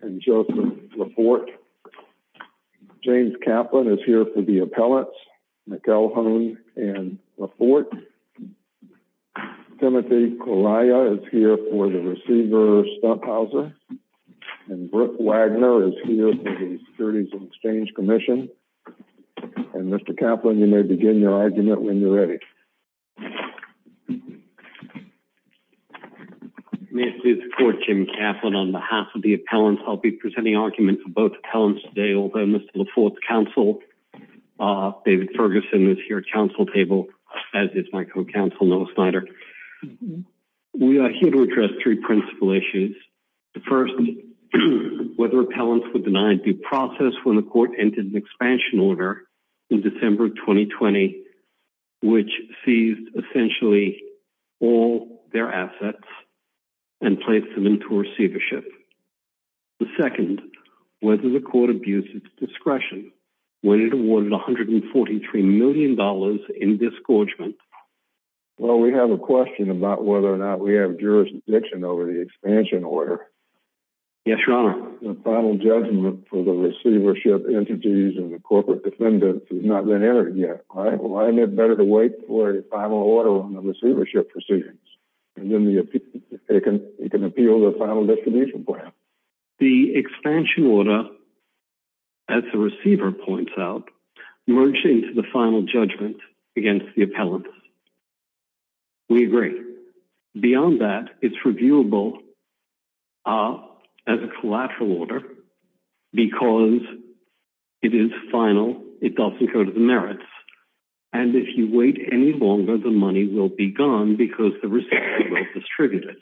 and Joseph LaPorte. James Kaplan is here for the appellates, McElhone and LaPorte. Timothy and Brooke Wagner is here for the Securities and Exchange Commission. And Mr. Kaplan, you may begin your argument when you're ready. May I please report, Jim Kaplan, on behalf of the appellants. I'll be presenting arguments for both appellants today, although Mr. LaPorte's counsel, David Ferguson, is here at counsel table as is my co-counsel, Noah Snyder. We are here to address three principal issues. The first, whether appellants were denied due process when the court entered an expansion order in December 2020, which seized essentially all their assets and placed them into receivership. The second, whether the court abused its discretion when it awarded $143 million in disgorgement. Well, we have a question about whether or not we have jurisdiction over the expansion order. Yes, Your Honor. The final judgment for the receivership entities and the corporate defendants has not been entered yet. Why isn't it better to wait for a final order on the receivership proceedings? And then you can appeal the final distribution plan. The expansion order, as the receiver points out, merged into the final judgment against the appellants. We agree. Beyond that, it's reviewable as a collateral order because it is final. It doesn't go to the merits. And if you wait any longer, the money will be gone because the receiver will distribute it.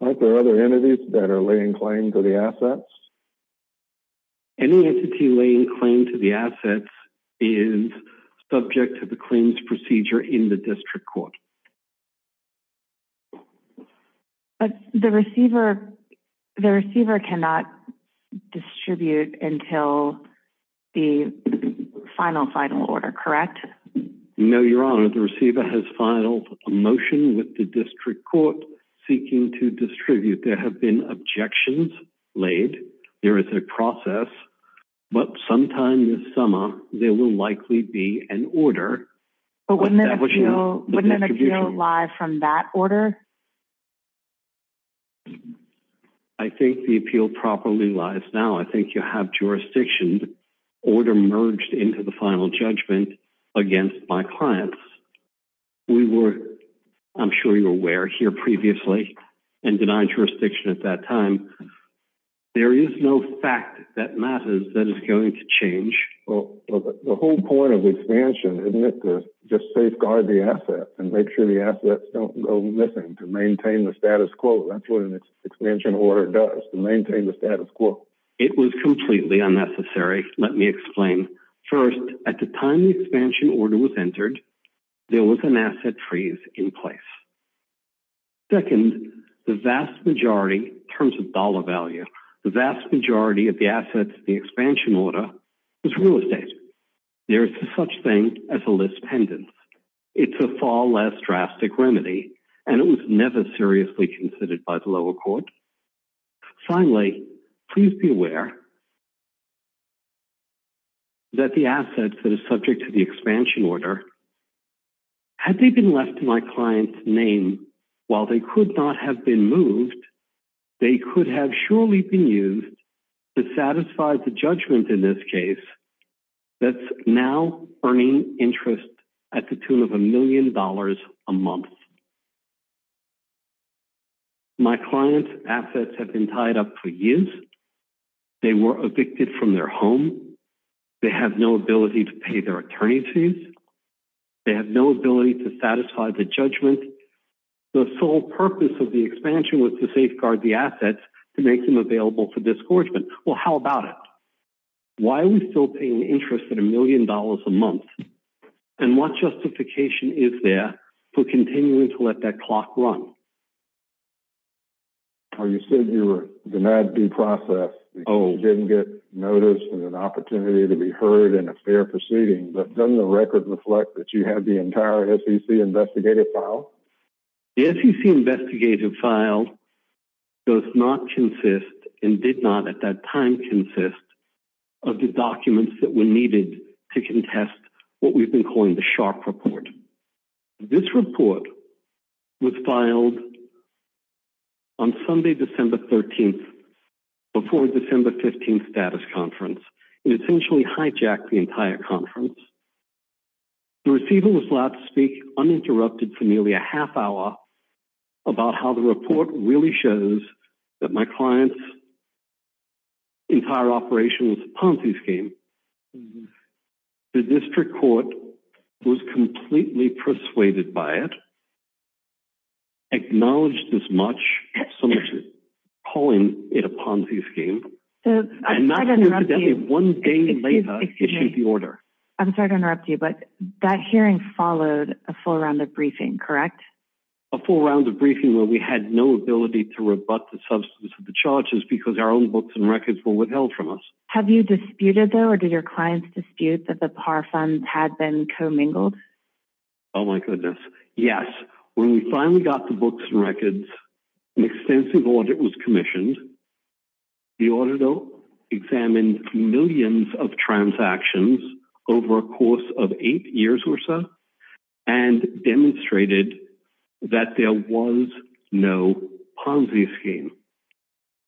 Aren't there other entities that are laying claim to the assets? Any entity laying claim to the assets is subject to the claims procedure in the district court. But the receiver cannot distribute until the final, final order, correct? No, Your Honor. The receiver has filed a motion with the district court seeking to distribute. There have been objections laid. There is a process. But sometime this summer, there will likely be an order. But wouldn't an appeal lie from that order? I think the appeal properly lies now. I think you have jurisdiction order merged into the final judgment against my clients. We were, I'm sure you're aware, here previously and denied jurisdiction at that time. There is no fact that matters that is going to change. Well, the whole point of the expansion isn't it to just safeguard the assets and make sure the assets don't go missing to maintain the status quo. That's what an expansion order does, to maintain the status quo. It was completely unnecessary. Let me explain. First, at the time the expansion order was entered, there was an asset freeze in place. Second, the vast majority, in terms of dollar value, the vast majority of the assets in the expansion order was real estate. There is such thing as a list pendants. It's a far less drastic remedy, and it was never seriously considered by the lower court. Finally, please be aware that the assets that are subject to the expansion order, had they been left to my client's name, while they could not have been moved, they could have surely been used to satisfy the judgment in this case that's now earning interest at the tune of a million dollars a month. My client's assets have been tied up for years. They were evicted from their home. They have no ability to pay their attorney's fees. They have no ability to satisfy the judgment. The sole purpose of the expansion was to safeguard the assets to make them available for disgorgement. Well, how about it? Why are we still paying interest at a million dollars a month? And what justification is there for continuing to let that clock run? You said you were denied due process. You didn't get notice and an opportunity to be heard in a fair proceeding, but doesn't the record reflect that you had the entire SEC investigative file? The SEC investigative file does not consist, and did not at that time consist, of the documents that were needed to contest what we've been calling the sharp report. This report was filed on Sunday, December 13th, before December 15th status conference. It essentially hijacked the entire conference. The receiver was allowed to speak uninterrupted for nearly a half hour about how the report really shows that my client's operation was a Ponzi scheme. The district court was completely persuaded by it. Acknowledged as much as calling it a Ponzi scheme. One day later issued the order. I'm sorry to interrupt you, but that hearing followed a full round of briefing, correct? A full round of briefing where we had no ability to rebut the substance of the charges because our books and records were withheld from us. Have you disputed though, or did your clients dispute that the PAR funds had been commingled? Oh my goodness. Yes. When we finally got the books and records, an extensive audit was commissioned. The auditor examined millions of transactions over a course of eight years or so and demonstrated that there was no Ponzi scheme.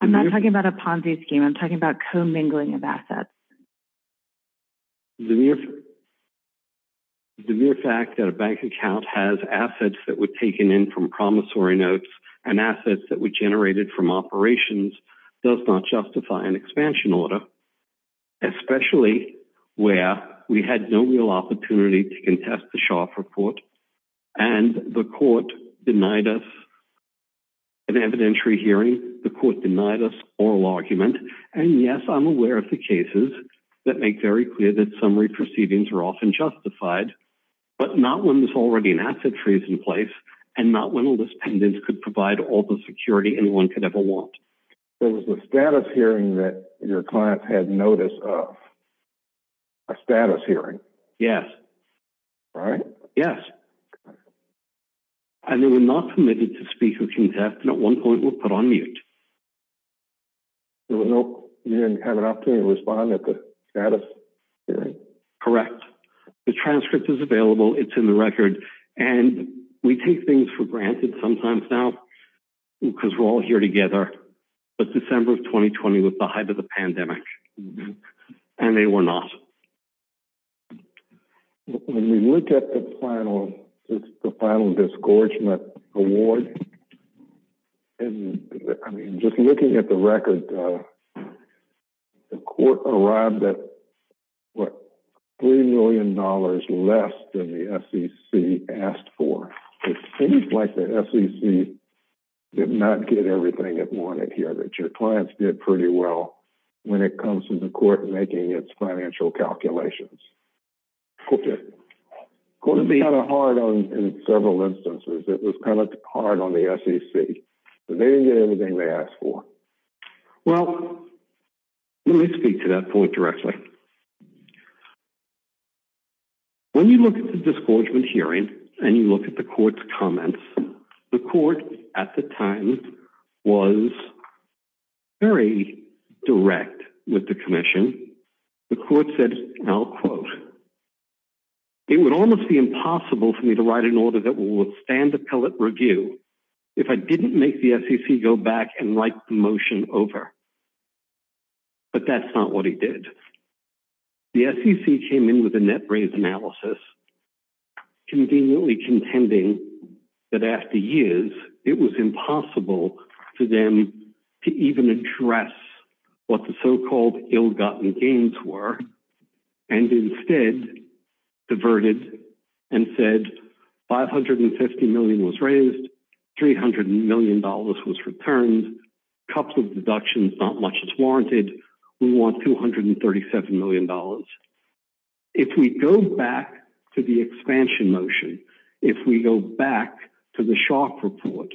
I'm not talking about a Ponzi scheme. I'm talking about commingling of assets. The mere fact that a bank account has assets that were taken in from promissory notes and assets that were generated from operations does not justify an expansion order, especially where we had no real opportunity to contest the Sharpe report and the court denied us an evidentiary hearing. The court denied us an oral argument. Yes, I'm aware of the cases that make very clear that summary proceedings are often justified, but not when there's already an asset freeze in place and not when a list pendant could provide all the security anyone could ever want. It was a status hearing that your clients had notice of. A status hearing. Yes. Right? Yes. And they were not permitted to speak or contest and at one point were put on mute. There was no, you didn't have an opportunity to respond at the status hearing? Correct. The transcript is available. It's in the record and we take things for granted sometimes now because we're all here together, but December of 2020 was the height of the pandemic and they were not. When we look at the final, the final disgorgement award, and I mean, just looking at the record, the court arrived at what, three million dollars less than the SEC asked for. It seems like the SEC did not get everything it wanted here, but your clients did pretty well when it comes to the court making its financial calculations. It was kind of hard on several instances. It was kind of hard on the SEC, but they didn't get everything they asked for. Well, let me speak to that point directly. When you look at the disgorgement hearing and you look at the court's comments, the court at the time was very direct with the commission. The court said, and I'll quote, it would almost be impossible for me to write an order that will withstand appellate review if I didn't make the SEC go back and write the motion over, but that's not what he did. The SEC came in with a net raise analysis, conveniently contending that after years, it was impossible for them to even address what the so-called ill-gotten gains were, and instead diverted and said 550 million was raised, 300 million dollars was returned, couple of deductions, not much is warranted. We want 237 million dollars. If we go back to the expansion motion, if we go back to the shock report,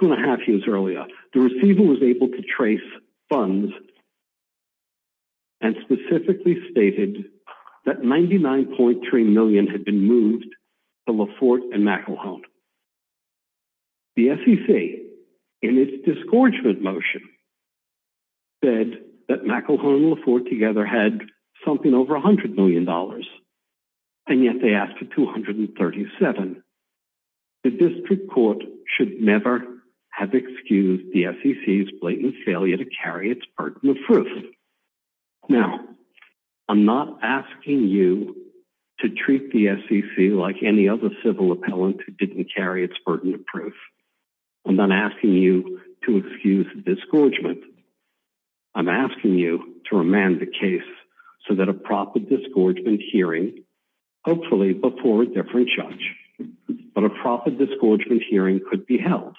two and a half years earlier, the receiver was able to trace funds and specifically stated that 99.3 million had been moved to Laforte and McElhone. The SEC, in its disgorgement motion, said that McElhone and Laforte together had something over 100 million dollars, and yet they asked for 237. The district court should never have excused the SEC's blatant failure to carry its burden of proof. Now, I'm not asking you to treat the SEC like any other civil appellant who didn't carry its burden of proof. I'm not asking you to excuse disgorgement. I'm asking you to remand the case so that a proper disgorgement hearing, hopefully before a different judge, but a proper disgorgement hearing could be held.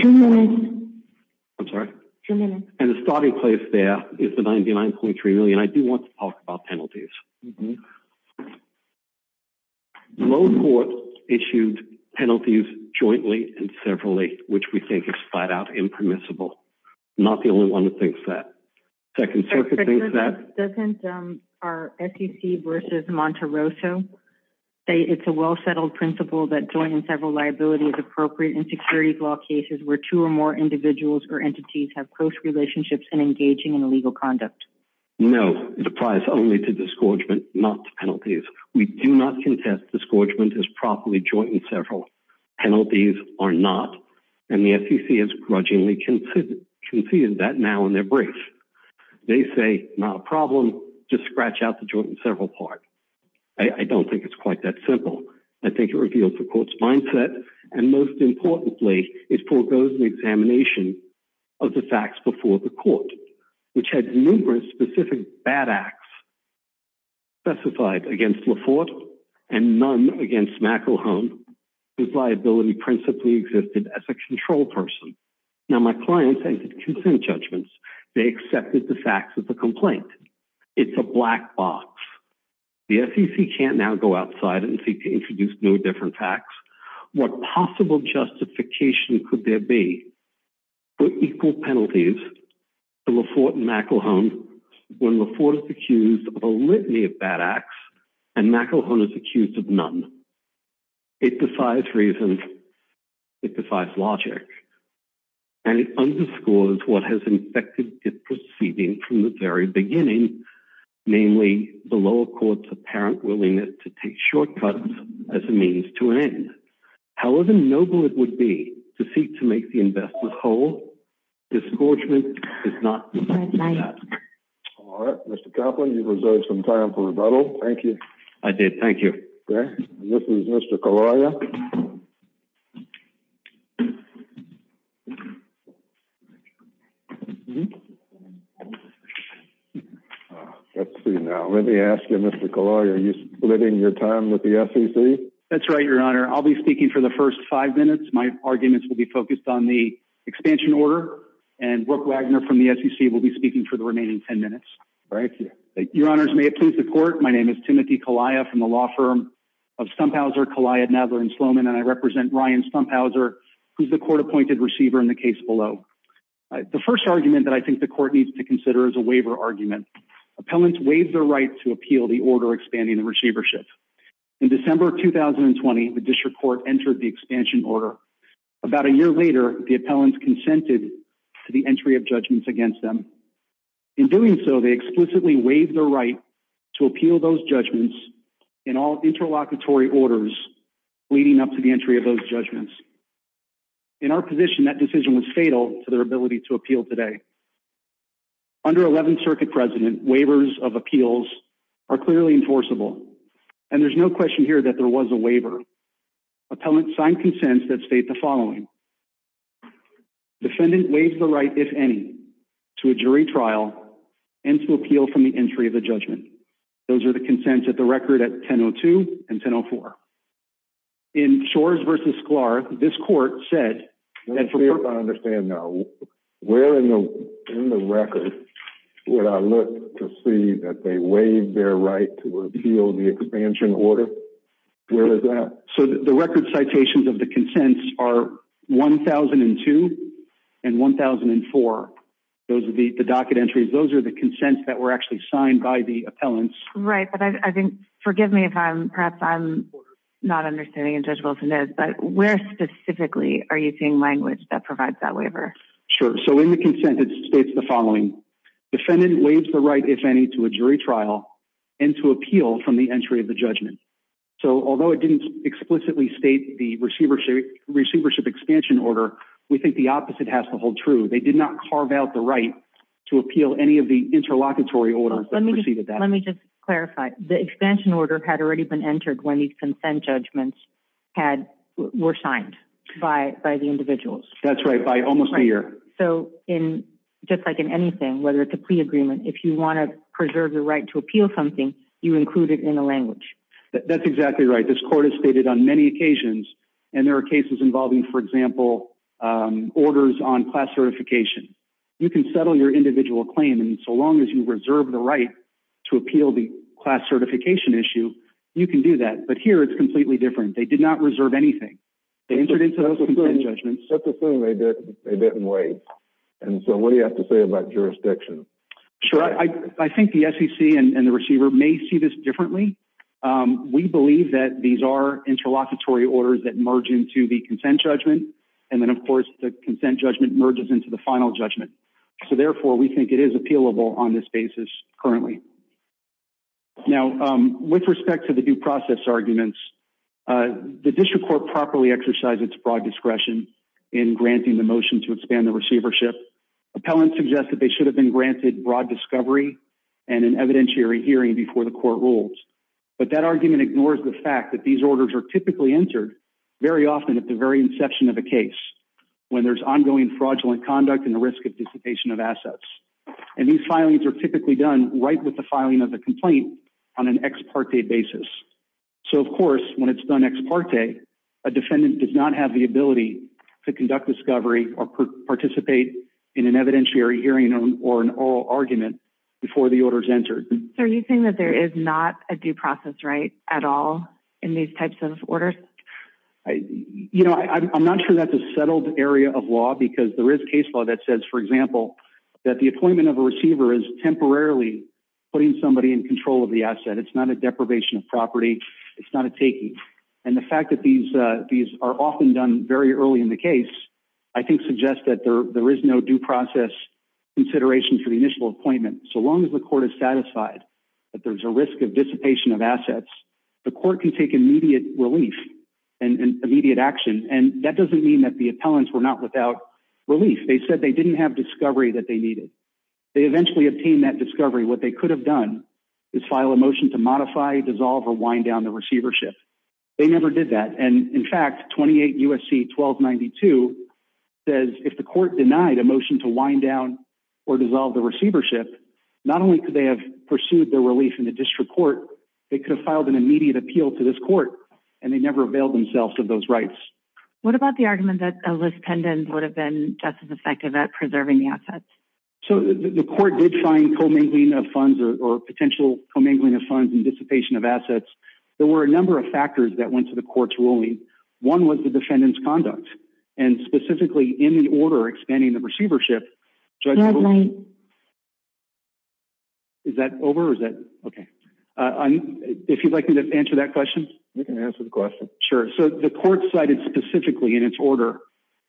Two minutes. I'm sorry? Two minutes. And the starting place there is the 99.3 million. I do want to talk about penalties. Laforte issued penalties jointly and severally, which we think is flat out impermissible. I'm not the only one who thinks that. Second Circuit thinks that. Doesn't our SEC versus Monterosso say it's a well-settled principle that joining several liability is appropriate in securities law cases where two or more individuals or entities have close relationships and engaging in illegal conduct? No. It applies only to disgorgement, not to penalties. We do not contest disgorgement as properly joint and several. Penalties are not, and the SEC has grudgingly conceded that now in their brief. They say, not a problem, just scratch out the joint and several part. I don't think it's quite that simple. I think it is. And most importantly, it foregoes the examination of the facts before the court, which had numerous specific bad acts specified against Laforte and none against McElhone, whose liability principally existed as a control person. Now, my client said consent judgments. They accepted the facts of the complaint. It's a black box. The SEC can't now go outside and introduce no different facts. What possible justification could there be for equal penalties to Laforte and McElhone when Laforte is accused of a litany of bad acts and McElhone is accused of none? It defies reason. It defies logic. And it underscores what has infected its proceeding from the very beginning, namely the lower court's apparent willingness to take shortcuts as a means to an end. However noble it would be to seek to make the investment whole, disgorgement is not. All right, Mr. Kaplan, you've reserved some time for rebuttal. Thank you. I did. Thank you. This is Mr. Kalaya. Let's see now. Let me ask you, Mr. Kalaya, are you splitting your time with the SEC? That's right, your honor. I'll be speaking for the first five minutes. My arguments will be focused on the expansion order and Brooke Wagner from the SEC will be speaking for the remaining 10 minutes. Thank you. Your honors, may it please the court. My name is Timothy Kalaya from the law of Stumphauser, Kalaya, Nadler, and Sloman and I represent Ryan Stumphauser, who's the court appointed receiver in the case below. The first argument that I think the court needs to consider is a waiver argument. Appellants waive their right to appeal the order expanding the receivership. In December 2020, the district court entered the expansion order. About a year later, the appellants consented to the entry of judgments against them. In doing so, they waived their right to appeal those judgments in all interlocutory orders leading up to the entry of those judgments. In our position, that decision was fatal to their ability to appeal today. Under 11th Circuit precedent, waivers of appeals are clearly enforceable and there's no question here that there was a waiver. Appellants signed consents that state the following. Defendant waives the right, if any, to a jury trial and to appeal from the entry of the judgment. Those are the consents at the record at 1002 and 1004. In Shores v. Sklar, this court said- Let me see if I understand now. Where in the record would I look to see that they waived their right to appeal the expansion order? Where is that? The record citations of the consents are 1002 and 1004. Those are the docket entries. Those are the consents that were actually signed by the appellants. Right. Forgive me if perhaps I'm not understanding in Judge Wilson's notes, but where specifically are you seeing language that provides that waiver? Sure. In the consent, it states the following. Defendant waives the right, if any, to a jury trial and to appeal from the entry of the judgment. Although it didn't explicitly state the receivership expansion order, we think the opposite has to hold true. They did not carve out the right to appeal any of the interlocutory orders that preceded that. Let me just clarify. The expansion order had already been entered when these consent judgments were signed by the individuals. That's right. By almost a year. So just like in anything, whether it's a plea agreement, if you want to preserve the right to appeal something, you include it in the language. That's exactly right. This court has stated on many occasions, and there are cases involving, for example, orders on class certification. You can settle your individual claim, and so long as you reserve the right to appeal the class certification issue, you can do that. But here, it's completely different. They did not reserve anything. They entered into those consent judgments. Let's assume they didn't wait. And so what do you have to say about jurisdiction? Sure. I think the SEC and the receiver may see this differently. We believe that these are interlocutory orders that merge into the consent judgment, and then, of course, the consent judgment merges into the final judgment. So therefore, we think it is appealable on this basis currently. Now, with respect to the due process arguments, the district court properly exercised its broad discretion in granting the motion to expand the receivership. Appellants suggest that they should have been granted broad discovery and an evidentiary hearing before the court rules. But that argument ignores the fact that these orders are typically entered very often at the very inception of a case, when there's ongoing fraudulent conduct and the risk of dissipation of assets. And these filings are typically done right with the filing of the complaint on an ex parte basis. So, of course, when it's done ex parte, a defendant does not have the ability to conduct discovery or participate in an evidentiary hearing or an oral argument before the order is entered. So are you saying that there is not a due process right at all in these types of orders? You know, I'm not sure that's a settled area of law, because there is case law that says, for example, that the appointment of a receiver is temporarily putting somebody in control of the asset. It's not a deprivation of property. It's not a taking. And the fact that these are often done very early in the case, I think, suggests that there is no due process consideration for the initial appointment. So long as the court is satisfied that there's a risk of dissipation of assets, the court can take immediate relief and immediate action. And that doesn't mean that the appellants were not without relief. They said they didn't have discovery that they needed. They eventually obtained that discovery. What they could have done is file a motion to modify, dissolve, or wind down the receivership. They never did that. And in fact, 28 U.S.C. 1292 says if the court denied a motion to wind down or dissolve the receivership, not only could they have pursued their relief in the district court, they could have filed an immediate appeal to this court, and they never availed themselves of those rights. What about the argument that a list effective at preserving the assets? So the court did find co-mingling of funds or potential co-mingling of funds and dissipation of assets. There were a number of factors that went to the court's ruling. One was the defendant's conduct. And specifically in the order expanding the receivership, is that over? Is that okay? If you'd like me to answer that question? You can answer the question. Sure. So the court cited specifically in its order,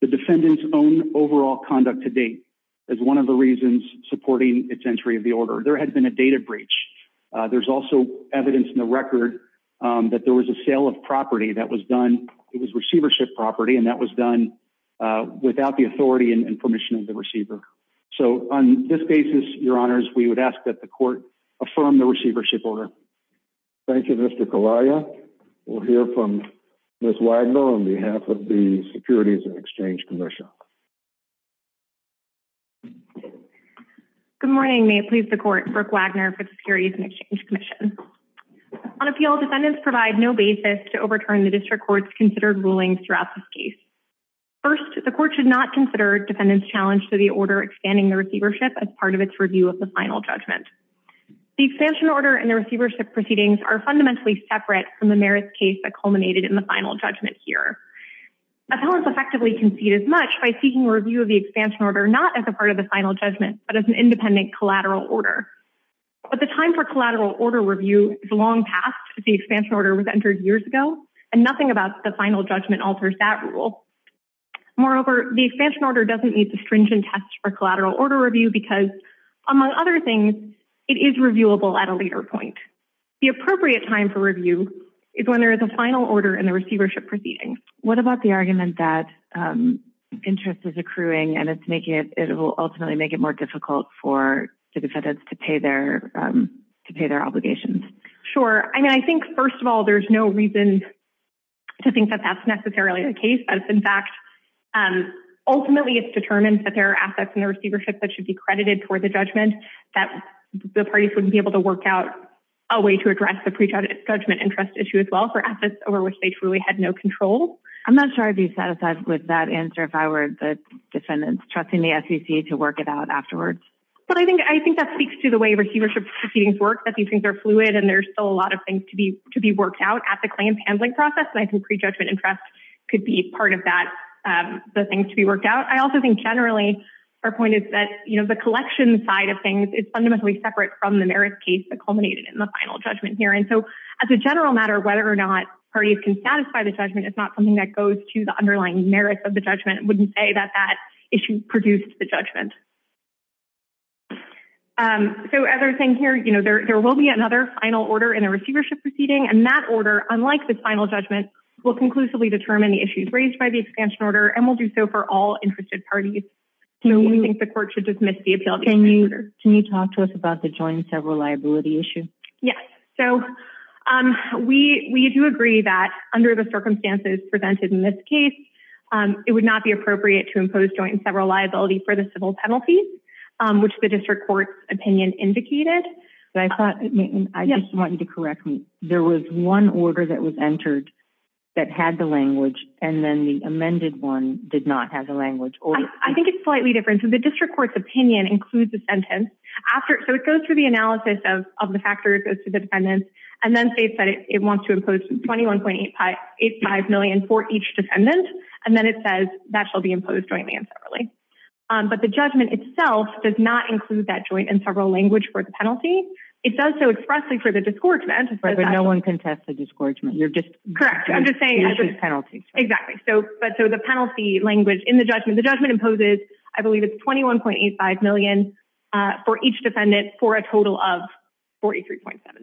the defendant's own overall conduct to date as one of the reasons supporting its entry of the order. There had been a data breach. There's also evidence in the record that there was a sale of property that was done. It was receivership property, and that was done without the authority and permission of the receiver. So on this basis, your honors, we would ask that the court affirm the receivership order. Thank you, Mr. Kalaya. We'll hear from Ms. Wagner on behalf of the Securities and Exchange Commission. Good morning. May it please the court. Brooke Wagner for the Securities and Exchange Commission. On appeal, defendants provide no basis to overturn the district court's considered rulings throughout this case. First, the court should not consider defendants' challenge to the order expanding the receivership as part of its review of the final judgment. The expansion order and the receivership proceedings are fundamentally separate from the case that culminated in the final judgment here. Defendants effectively concede as much by seeking a review of the expansion order not as a part of the final judgment, but as an independent collateral order. But the time for collateral order review is long past. The expansion order was entered years ago, and nothing about the final judgment alters that rule. Moreover, the expansion order doesn't need to stringent test for collateral order review because, among other things, it is reviewable at a later point. The appropriate time for review is when there is a final order in the receivership proceedings. What about the argument that interest is accruing and it will ultimately make it more difficult for defendants to pay their obligations? Sure. I mean, I think, first of all, there's no reason to think that that's necessarily the case. That's, in fact, ultimately it's determined that there are assets in the receivership that should be credited for the judgment that the parties would be able to work out a way to address the prejudgment interest issue as well for assets over which they truly had no control. I'm not sure I'd be satisfied with that answer if I were the defendant trusting the SEC to work it out afterwards. But I think that speaks to the way receivership proceedings work, that these things are fluid and there's still a lot of things to be worked out at the claims handling process. And I think prejudgment interest could be part of that, the things to be worked out. I also think generally our point is that, you know, the collection side of things is fundamentally separate from the merit case that culminated in the final judgment here. And so as a general matter, whether or not parties can satisfy the judgment is not something that goes to the underlying merits of the judgment. I wouldn't say that that issue produced the judgment. So as I was saying here, you know, there will be another final order in a receivership proceeding. And that order, unlike the final judgment, will conclusively determine the issues raised by the expansion order and will do so for all interested parties. Do you think the court should dismiss the appeal? Can you talk to us about the joint and several liability issue? Yes. So we do agree that under the circumstances presented in this case, it would not be appropriate to impose joint and several liability for the civil penalties, which the district court's opinion indicated. I just want you to correct me. There was one order that was entered that had the language and then the amended one did not have the language. I think it's slightly different. So the district court's opinion includes the sentence after. So it goes through the analysis of the factors as to the defendants and then states that it wants to impose 21.85 million for each defendant. And then it says that shall be imposed jointly and separately. But the judgment itself does not include that joint and several language for the penalty. It does so expressly for the discouragement. But no one can test the discouragement. You're just correct. I'm just saying penalty. Exactly. So but so the penalty language in the judgment, the judgment imposes, I believe, it's 21.85 million for each defendant for a total of 43.7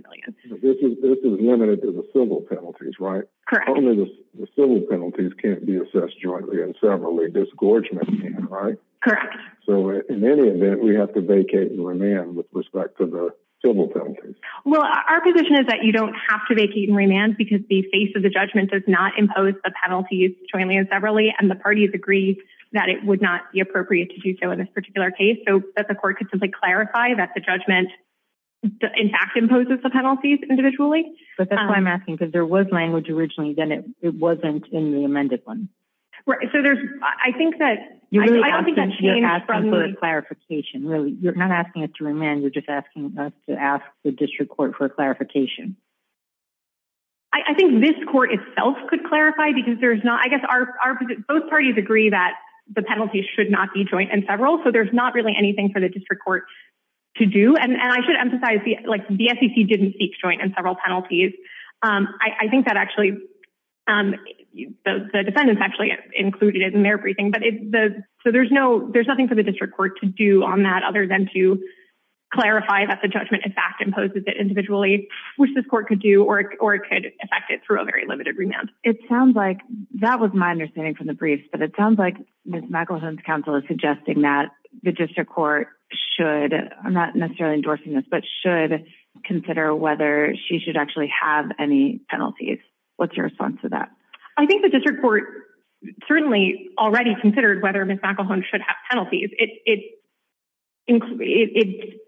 million. This is limited to the civil penalties, right? Correct. Only the civil penalties can't be assessed jointly and severally. Discouragement, right? Correct. So in any event, we have to vacate and remand with respect to the civil penalties. Well, our position is that you don't have to vacate and remand because the face of the judgment does not impose the penalties jointly and separately. And the parties agree that it would not be appropriate to do so in this particular case so that the court could simply clarify that the judgment in fact imposes the penalties individually. But that's why I'm asking because there was language originally, then it wasn't in the amended one. Right. So there's, I think that you're asking for a clarification, really, you're not asking us to remand, you're just asking us to ask the district court for clarification. I think this court itself could clarify because there's not, I guess our, both parties agree that the penalties should not be joint and several. So there's not really anything for the district court to do. And I should emphasize the, like the SEC didn't seek joint and several penalties. I think that actually, the defendants actually included it in their briefing, but it's the, so there's no, there's nothing for the district court to do on that other than to clarify that judgment in fact imposes it individually, which this court could do, or it could affect it through a very limited remand. It sounds like that was my understanding from the briefs, but it sounds like Ms. McElhone's counsel is suggesting that the district court should, I'm not necessarily endorsing this, but should consider whether she should actually have any penalties. What's your response to that? I think the district court certainly already considered whether Ms. McElhone's counsel should have any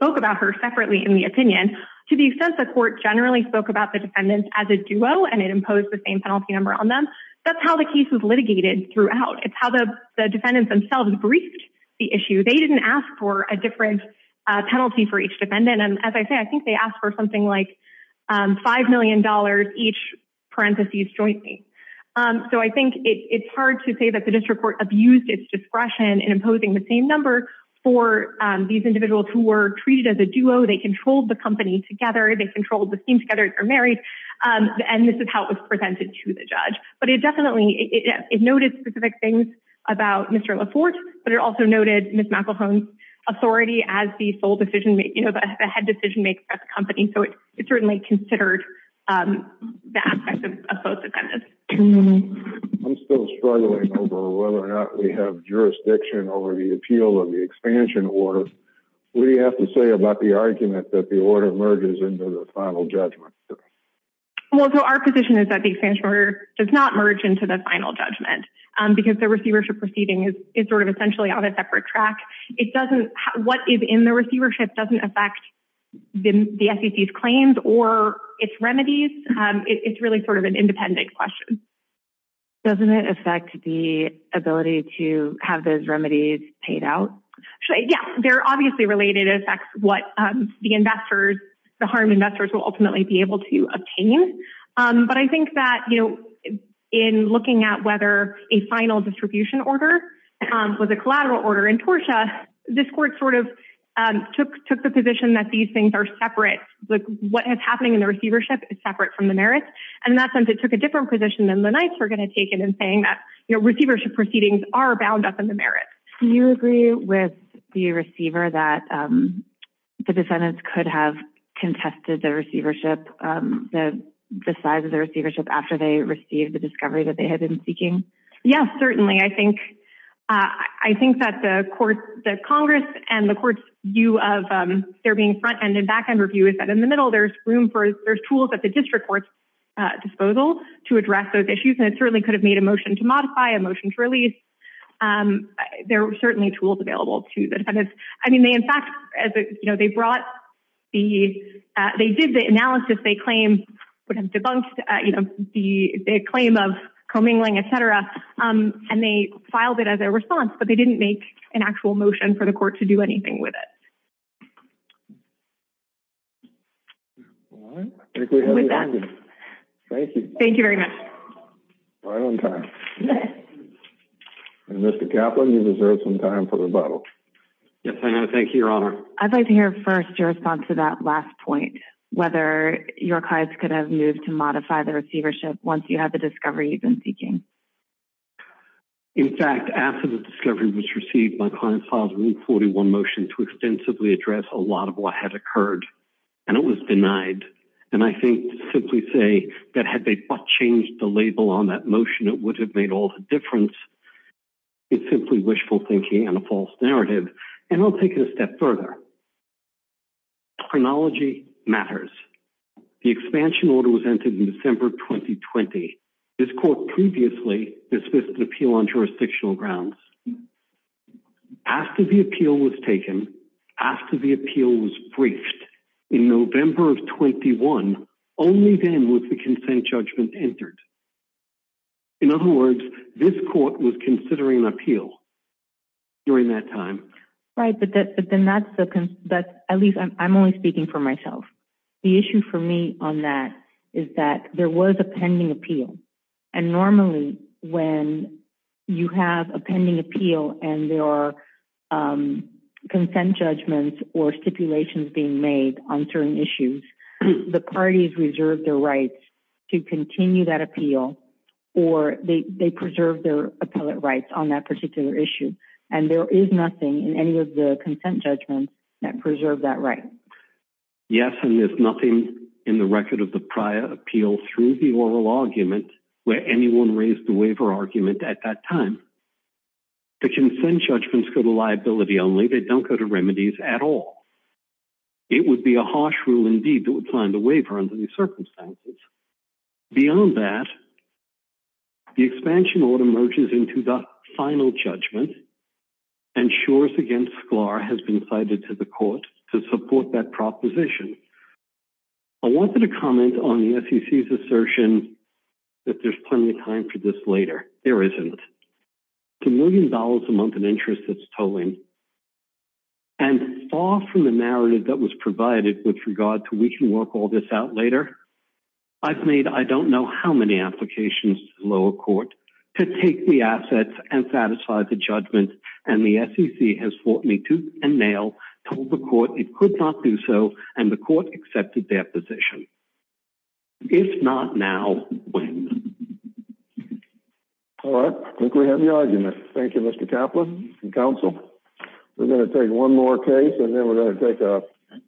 penalties or separately in the opinion to the extent the court generally spoke about the defendants as a duo and it imposed the same penalty number on them. That's how the case was litigated throughout. It's how the defendants themselves briefed the issue. They didn't ask for a different penalty for each defendant. And as I say, I think they asked for something like $5 million each parentheses jointly. So I think it's hard to say that the district court abused its discretion in imposing the same number for these individuals who were treated as a duo. They controlled the company together. They controlled the scheme together. They're married. And this is how it was presented to the judge. But it definitely, it noted specific things about Mr. LaForte, but it also noted Ms. McElhone's authority as the sole decision-maker, the head decision-maker at the company. So it certainly considered the aspects of both defendants. I'm still struggling over whether or not we have jurisdiction over the appeal of the expansion order. What do you have to say about the argument that the order merges into the final judgment? Well, so our position is that the expansion order does not merge into the final judgment because the receivership proceeding is sort of essentially on a separate track. It doesn't, what is in the receivership doesn't affect the SEC's claims or its remedies. It's really sort of an independent question. Doesn't it affect the ability to have those remedies paid out? Yeah, they're obviously related. It affects what the investors, the harmed investors will ultimately be able to obtain. But I think that, you know, in looking at whether a final distribution order was a collateral order in TORSHA, this court sort of took the position that these things are separate. Like what has happening in the receivership is separate from the merits. And in that sense, it took a different position than the Knights were going to take it in saying that, you know, receivership proceedings are bound up in the merits. Do you agree with the receiver that the defendants could have contested the receivership, the size of the receivership after they received the discovery that they had been seeking? Yes, certainly. I think that the court, the Congress and the court's view of there being front-end and back-end review is that in the middle, there's room for, there's tools at the district court's disposal to address those issues. And it certainly could have made a motion to modify, a motion to release. There were certainly tools available to the defendants. I mean, they, in fact, as you know, they brought the, they did the analysis, they and they filed it as a response, but they didn't make an actual motion for the court to do anything with it. All right. Thank you. Thank you very much. Right on time. Mr. Kaplan, you deserve some time for rebuttal. Yes, I know. Thank you, Your Honor. I'd like to hear first your response to that last point, whether your clients could have moved to In fact, after the discovery was received, my client filed room 41 motion to extensively address a lot of what had occurred and it was denied. And I think simply say that had they changed the label on that motion, it would have made all the difference. It's simply wishful thinking and a false narrative. And I'll take it a step further. Chronology matters. The expansion order was entered in December of 2020. This court previously dismissed an appeal on jurisdictional grounds. After the appeal was taken, after the appeal was briefed in November of 21, only then was the consent judgment entered. In other words, this court was considering an appeal during that time. Right. But then that's the, at least I'm only speaking for myself. The issue for me on that is that there was a pending appeal. And normally when you have a pending appeal and there are consent judgments or stipulations being made on certain issues, the parties reserve their rights to continue that appeal or they preserve their appellate rights on that particular issue. And there is nothing in any of the consent judgments that preserve that right? Yes. And there's nothing in the record of the prior appeal through the oral argument where anyone raised the waiver argument at that time. The consent judgments go to liability only. They don't go to remedies at all. It would be a harsh rule indeed that would find a waiver under these circumstances. Beyond that, the expansion order merges into the final judgment and Schor's against Sklar has been to the court to support that proposition. I wanted to comment on the SEC's assertion that there's plenty of time for this later. There isn't. $2 million a month in interest that's tolling and far from the narrative that was provided with regard to we can work all this out later. I've made, I don't know how many applications to lower court to take the assets and satisfy the judgment and the SEC has fought me tooth and nail, told the court it could not do so and the court accepted their position. If not now, when? All right. I think we have the argument. Thank you, Mr. Kaplan and counsel. We're going to take one more case and then we're going to take a 15 minute recess.